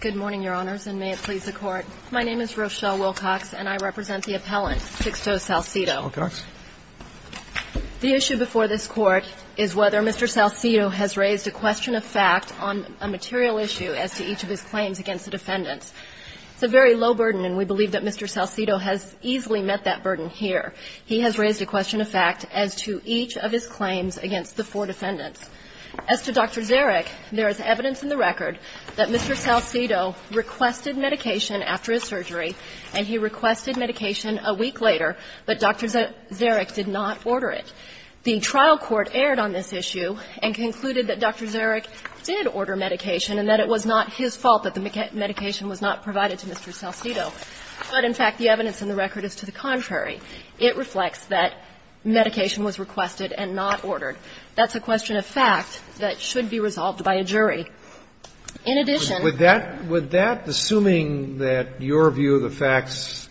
Good morning, Your Honors, and may it please the Court. My name is Rochelle Wilcox, and I represent the appellant Sixto Salcido. Wilcox. The issue before this Court is whether Mr. Salcido has raised a question of fact on a material issue as to each of his claims against the defendants. It's a very low burden, and we believe that Mr. Salcido has easily met that burden here. He has raised a question of fact as to each of his claims against the four defendants. As to Dr. Zarek, there is evidence in the record that Mr. Salcido requested medication after his surgery, and he requested medication a week later, but Dr. Zarek did not order it. The trial court erred on this issue and concluded that Dr. Zarek did order medication and that it was not his fault that the medication was not provided to Mr. Salcido. But, in fact, the evidence in the record is to the contrary. It reflects that medication was requested and not ordered. That's a question of fact that should be resolved by a jury. In addition to that, would that, assuming that your view of the facts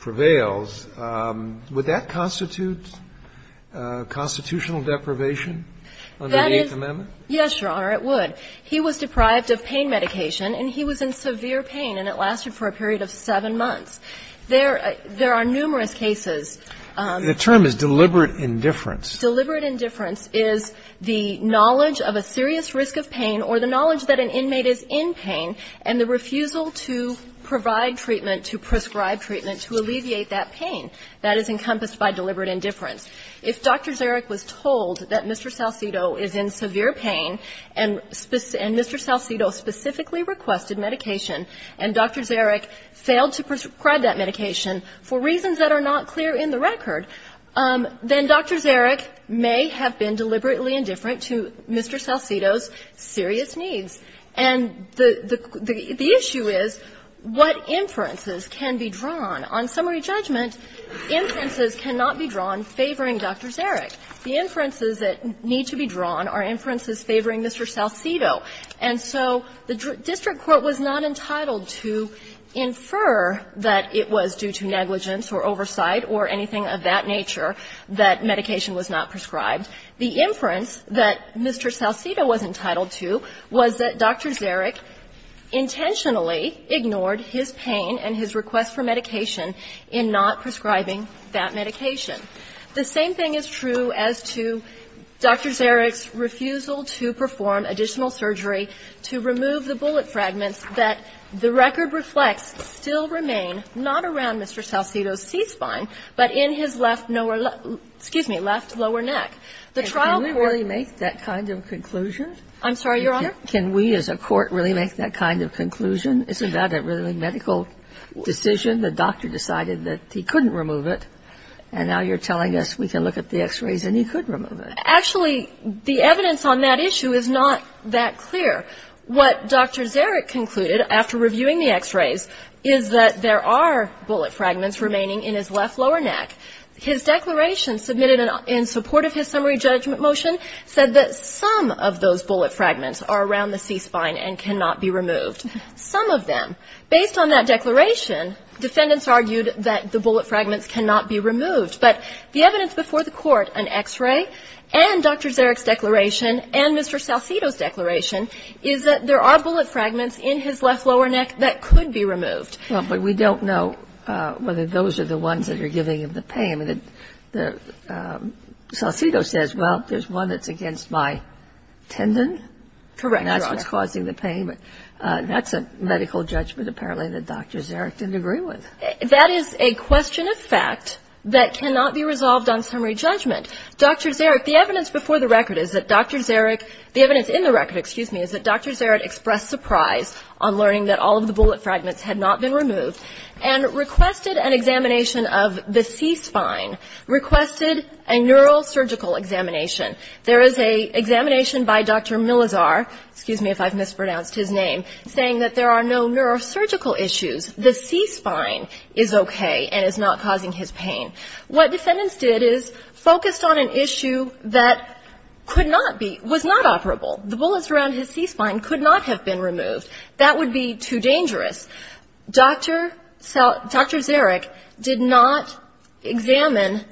prevails, would that constitute constitutional deprivation under the Eighth Amendment? Yes, Your Honor, it would. He was deprived of pain medication, and he was in severe pain, and it lasted for a period of seven months. There are numerous cases. The term is deliberate indifference. Deliberate indifference is the knowledge of a serious risk of pain or the knowledge that an inmate is in pain and the refusal to provide treatment, to prescribe treatment to alleviate that pain. That is encompassed by deliberate indifference. If Dr. Zarek was told that Mr. Salcido is in severe pain and Mr. Salcido specifically requested medication and Dr. Zarek failed to prescribe that medication for reasons that are not clear in the record, then Dr. Zarek may have been deliberately indifferent to Mr. Salcido's serious needs. And the issue is what inferences can be drawn. On summary judgment, inferences cannot be drawn favoring Dr. Zarek. The inferences that need to be drawn are inferences favoring Mr. Salcido. And so the district court was not entitled to infer that it was due to negligence or oversight or anything of that nature that medication was not prescribed. The inference that Mr. Salcido was entitled to was that Dr. Zarek intentionally ignored his pain and his request for medication in not prescribing that medication. The same thing is true as to Dr. Zarek's refusal to perform additional surgery to remove the bullet fragments that the record reflects still remain not around Mr. Salcido's T-spine, but in his left lower neck. The trial court ---- Can we really make that kind of conclusion? I'm sorry, Your Honor? Can we as a court really make that kind of conclusion? Isn't that a really medical decision? The doctor decided that he couldn't remove it, and now you're telling us we can look at the X-rays and he could remove it. Actually, the evidence on that issue is not that clear. What Dr. Zarek concluded after reviewing the X-rays is that there are bullet fragments remaining in his left lower neck. His declaration submitted in support of his summary judgment motion said that some of those bullet fragments are around the C-spine and cannot be removed. Some of them. Based on that declaration, defendants argued that the bullet fragments cannot be removed. But the evidence before the court, an X-ray and Dr. Zarek's declaration and Mr. Salcido's declaration is that there are bullet fragments in his left lower neck that could be removed. Well, but we don't know whether those are the ones that are giving him the pain. Salcido says, well, there's one that's against my tendon. Correct, Your Honor. And that's what's causing the pain. That's a medical judgment apparently that Dr. Zarek didn't agree with. That is a question of fact that cannot be resolved on summary judgment. Dr. Zarek, the evidence before the record is that Dr. Zarek, the evidence in the record, excuse me, is that Dr. Zarek expressed surprise on learning that all of the bullet fragments had not been removed and requested an examination of the C-spine, requested a neurosurgical examination. There is an examination by Dr. Millizar, excuse me if I've mispronounced his name, saying that there are no neurosurgical issues. The C-spine is okay and is not causing his pain. What defendants did is focused on an issue that could not be, was not operable. The bullets around his C-spine could not have been removed. That would be too dangerous. Dr. Zarek did not examine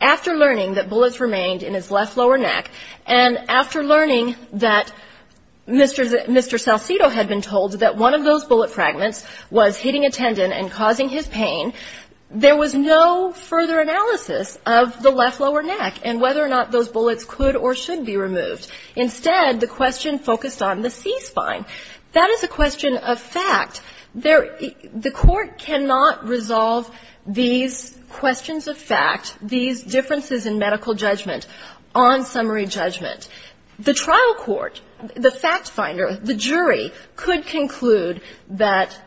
after learning that bullets remained in his left lower neck and after learning that Mr. Salcido had been told that one of those bullet fragments was hitting a tendon and causing his pain, there was no further analysis of the left lower neck and whether or not those bullets could or should be removed. Instead, the question focused on the C-spine. That is a question of fact. The court cannot resolve these questions of fact, these differences in medical judgment, on summary judgment. The trial court, the fact finder, the jury, could conclude that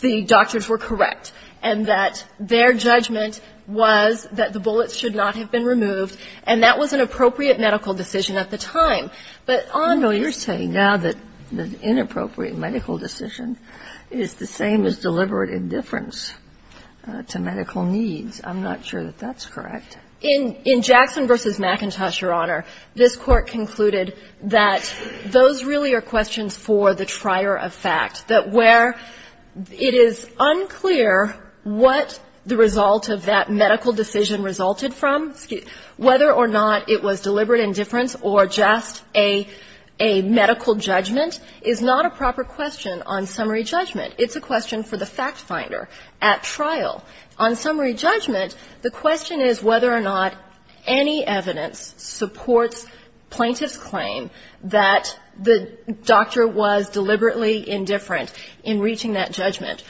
the doctors were correct and that their judgment was that the bullets should not have been removed, and that was an appropriate medical decision at the time. But on the other hand ---- Kagan. No, you're saying now that an inappropriate medical decision is the same as deliberate indifference to medical needs. I'm not sure that that's correct. In Jackson v. McIntosh, Your Honor, this Court concluded that those really are questions for the trier of fact, that where it is unclear what the result of that medical decision resulted from, whether or not it was deliberate indifference or just a medical judgment, is not a proper question on summary judgment. It's a question for the fact finder at trial. On summary judgment, the question is whether or not any evidence supports plaintiff's claim that the doctor was deliberately indifferent in reaching that judgment.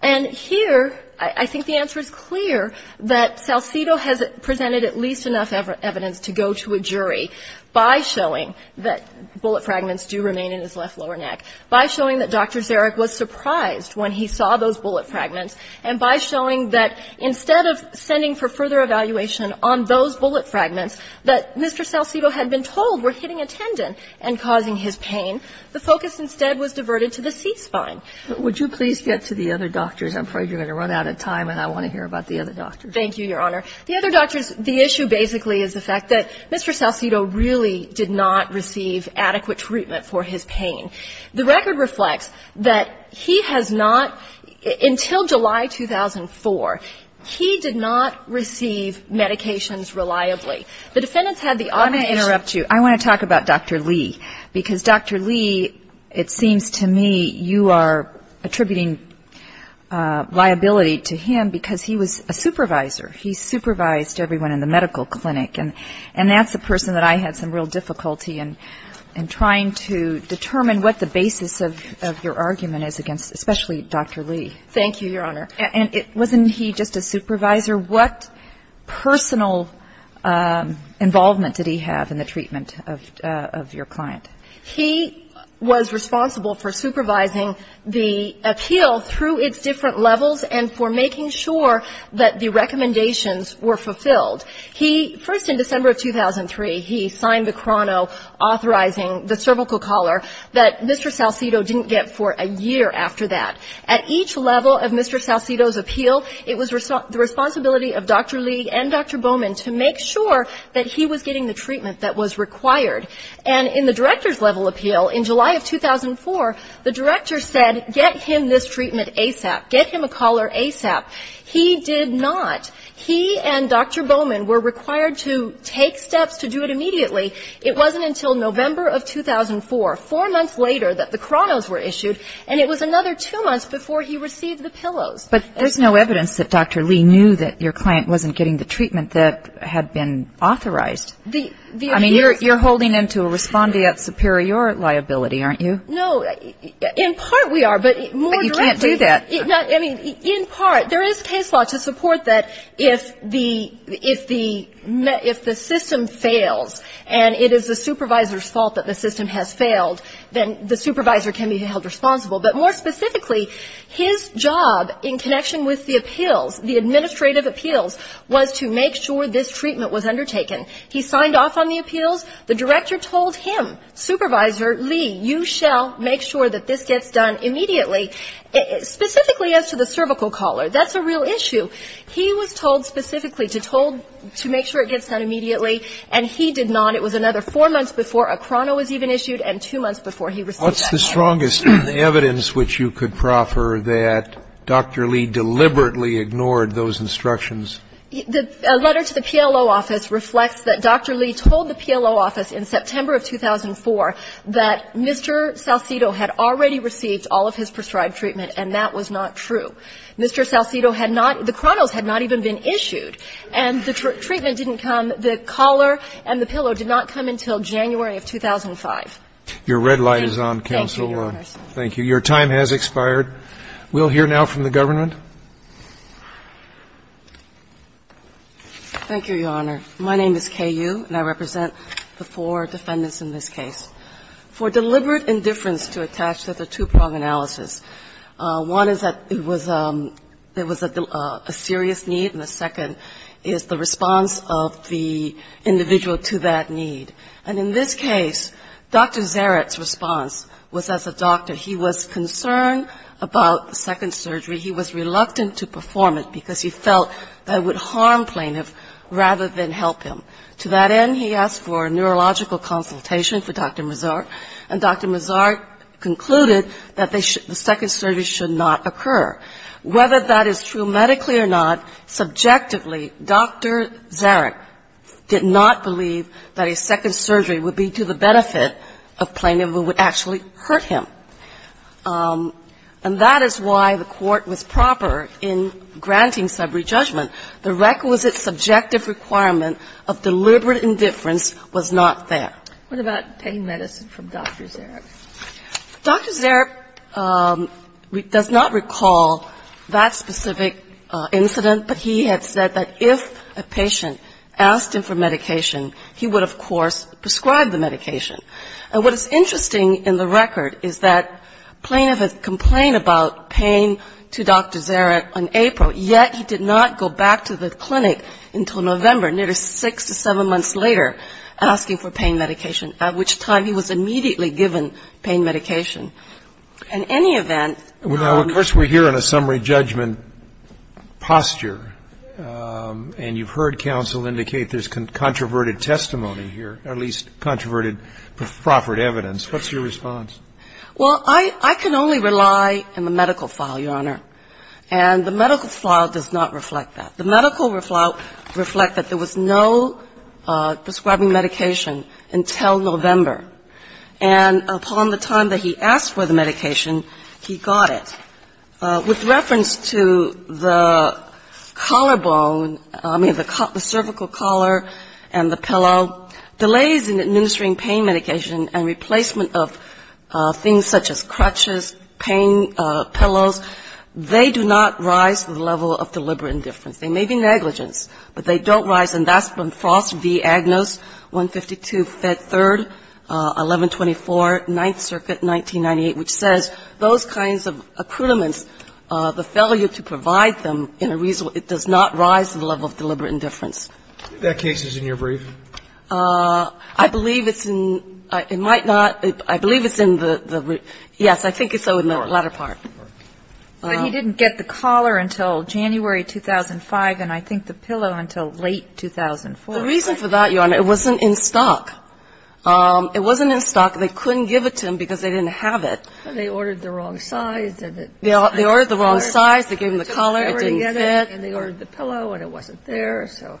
And here, I think the answer is clear, that Salcido has presented at least enough evidence to go to a jury by showing that bullet fragments do remain in his left lower neck, by showing that Dr. Zarek was surprised when he saw those bullet fragments and by showing that instead of sending for further evaluation on those bullet fragments that Mr. Salcido had been told were hitting a tendon and causing his pain, the focus instead was diverted to the C-spine. But would you please get to the other doctors? I'm afraid you're going to run out of time, and I want to hear about the other doctors. Thank you, Your Honor. The other doctors, the issue basically is the fact that Mr. Salcido really did not receive adequate treatment for his pain. The record reflects that he has not, until July 2004, he did not receive medications reliably. The defendants had the audition. I want to interrupt you. I want to talk about Dr. Lee, because Dr. Lee, it seems to me you are attributing liability to him because he was a supervisor. He supervised everyone in the medical clinic, and that's the person that I had some real difficulty in trying to determine what the basis of your argument is against, especially Dr. Lee. Thank you, Your Honor. And wasn't he just a supervisor? What personal involvement did he have in the treatment of your client? He was responsible for supervising the appeal through its different levels and for making sure that the recommendations were fulfilled. He, first in December of 2003, he signed the chrono authorizing the cervical collar that Mr. Salcido didn't get for a year after that. At each level of Mr. Salcido's appeal, it was the responsibility of Dr. Lee and Dr. Bowman to make sure that he was getting the treatment that was required. And in the director's level appeal, in July of 2004, the director said, get him this treatment ASAP, get him a collar ASAP. He did not. He and Dr. Bowman were required to take steps to do it immediately. It wasn't until November of 2004, four months later that the chronos were issued, and it was another two months before he received the pillows. But there's no evidence that Dr. Lee knew that your client wasn't getting the treatment that had been authorized. I mean, you're holding him to a respondeat superior liability, aren't you? No. In part we are, but more directly. But you can't do that. I mean, in part, there is case law to support that if the system fails and it is the supervisor's fault that the system has failed, then the supervisor can be held responsible. But more specifically, his job in connection with the appeals, the administrative appeals, was to make sure this treatment was undertaken. He signed off on the appeals. The director told him, Supervisor Lee, you shall make sure that this gets done immediately. Specifically as to the cervical collar, that's a real issue. He was told specifically to make sure it gets done immediately, and he did not. It was another four months before a chrono was even issued and two months before he received that. What's the strongest evidence which you could proffer that Dr. Lee deliberately ignored those instructions? A letter to the PLO office reflects that Dr. Lee told the PLO office in September of 2004 that Mr. Saucedo had already received all of his prescribed treatment, and that was not true. Mr. Saucedo had not the chronos had not even been issued, and the treatment didn't come. The collar and the pillow did not come until January of 2005. Your red light is on, counsel. Thank you. Your time has expired. We'll hear now from the government. Thank you, Your Honor. My name is Kay Yu, and I represent the four defendants in this case. For deliberate indifference to attach to the two-prong analysis, one is that it was a serious need, and the second is the response of the individual to that need. And in this case, Dr. Zaret's response was as a doctor, he was concerned about the second surgery. He was reluctant to perform it because he felt that it would harm plaintiffs rather than help him. To that end, he asked for a neurological consultation for Dr. Mazart, and Dr. Mazart concluded that the second surgery should not occur. Whether that is true medically or not, subjectively, Dr. Zaret did not believe that a second surgery would be to the benefit of plaintiff who would actually hurt him. And that is why the court was proper in granting subrejudgment. The requisite subjective requirement of deliberate indifference was not there. What about pain medicine from Dr. Zaret? Dr. Zaret does not recall that specific incident, but he had said that if a patient asked him for medication, he would, of course, prescribe the medication. And what is interesting in the record is that plaintiff complained about pain to Dr. Mazart, and Dr. Mazart went back to the clinic until November, nearly six to seven months later, asking for pain medication, at which time he was immediately given pain medication. In any event ñ Well, of course, we're here in a summary judgment posture, and you've heard counsel indicate there's controverted testimony here, or at least controverted proffered evidence. What's your response? Well, I can only rely on the medical file, Your Honor, and the medical file does not reflect that. The medical file reflects that there was no prescribing medication until November, and upon the time that he asked for the medication, he got it. With reference to the collarbone, I mean, the cervical collar and the pillow, delays in administering pain medication and replacement of things such as crutches, pain, pillows, they do not rise to the level of deliberate indifference. They may be negligence, but they don't rise, and that's from Frost v. Agnos, 152, Fed 3, 1124, Ninth Circuit, 1998, which says those kinds of accruements, the failure to provide them, it does not rise to the level of deliberate indifference. That case is in your brief? I believe it's in the, yes, I think it's in the latter part. But he didn't get the collar until January 2005, and I think the pillow until late The reason for that, Your Honor, it wasn't in stock. It wasn't in stock. They couldn't give it to him because they didn't have it. They ordered the wrong size. They ordered the wrong size. They gave him the collar. It didn't fit. And they ordered the pillow, and it wasn't there. So,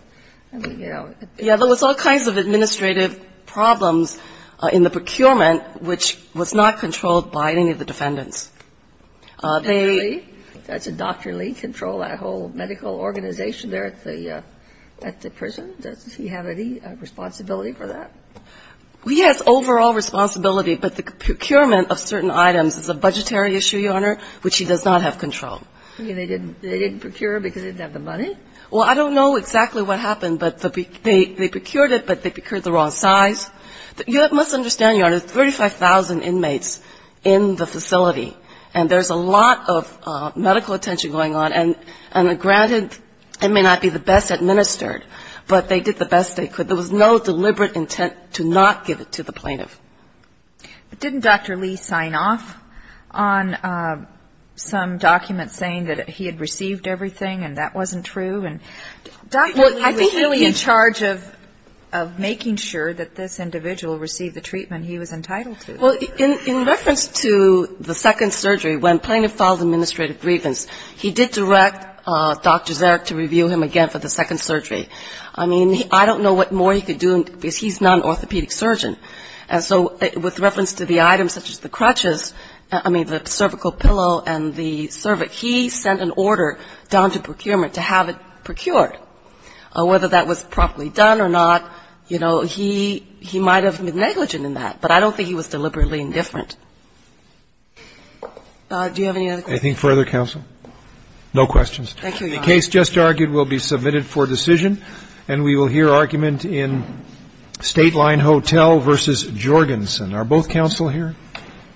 I mean, you know. Yeah, there was all kinds of administrative problems in the procurement, which was not controlled by any of the defendants. Dr. Lee? Does Dr. Lee control that whole medical organization there at the prison? Does he have any responsibility for that? He has overall responsibility, but the procurement of certain items is a budgetary issue, Your Honor, which he does not have control. You mean they didn't procure because they didn't have the money? Well, I don't know exactly what happened, but they procured it, but they procured the wrong size. You must understand, Your Honor, 35,000 inmates in the facility, and there's a lot of medical attention going on. And granted, it may not be the best administered, but they did the best they could. There was no deliberate intent to not give it to the plaintiff. But didn't Dr. Lee sign off on some documents saying that he had received everything and that wasn't true? And Dr. Lee was really in charge of making sure that this individual received the treatment he was entitled to. Well, in reference to the second surgery, when plaintiff filed administrative grievance, he did direct Dr. Zarek to review him again for the second surgery. I mean, I don't know what more he could do, because he's not an orthopedic surgeon. And so with reference to the items such as the crutches, I mean, the cervical pillow and the cervix, he sent an order down to procurement to have it procured. Whether that was properly done or not, you know, he might have been negligent in that, but I don't think he was deliberately indifferent. Do you have any other questions? Anything further, counsel? No questions. Thank you, Your Honor. The case just argued will be submitted for decision, and we will hear argument in Stateline Hotel v. Jorgensen. Are both counsel here?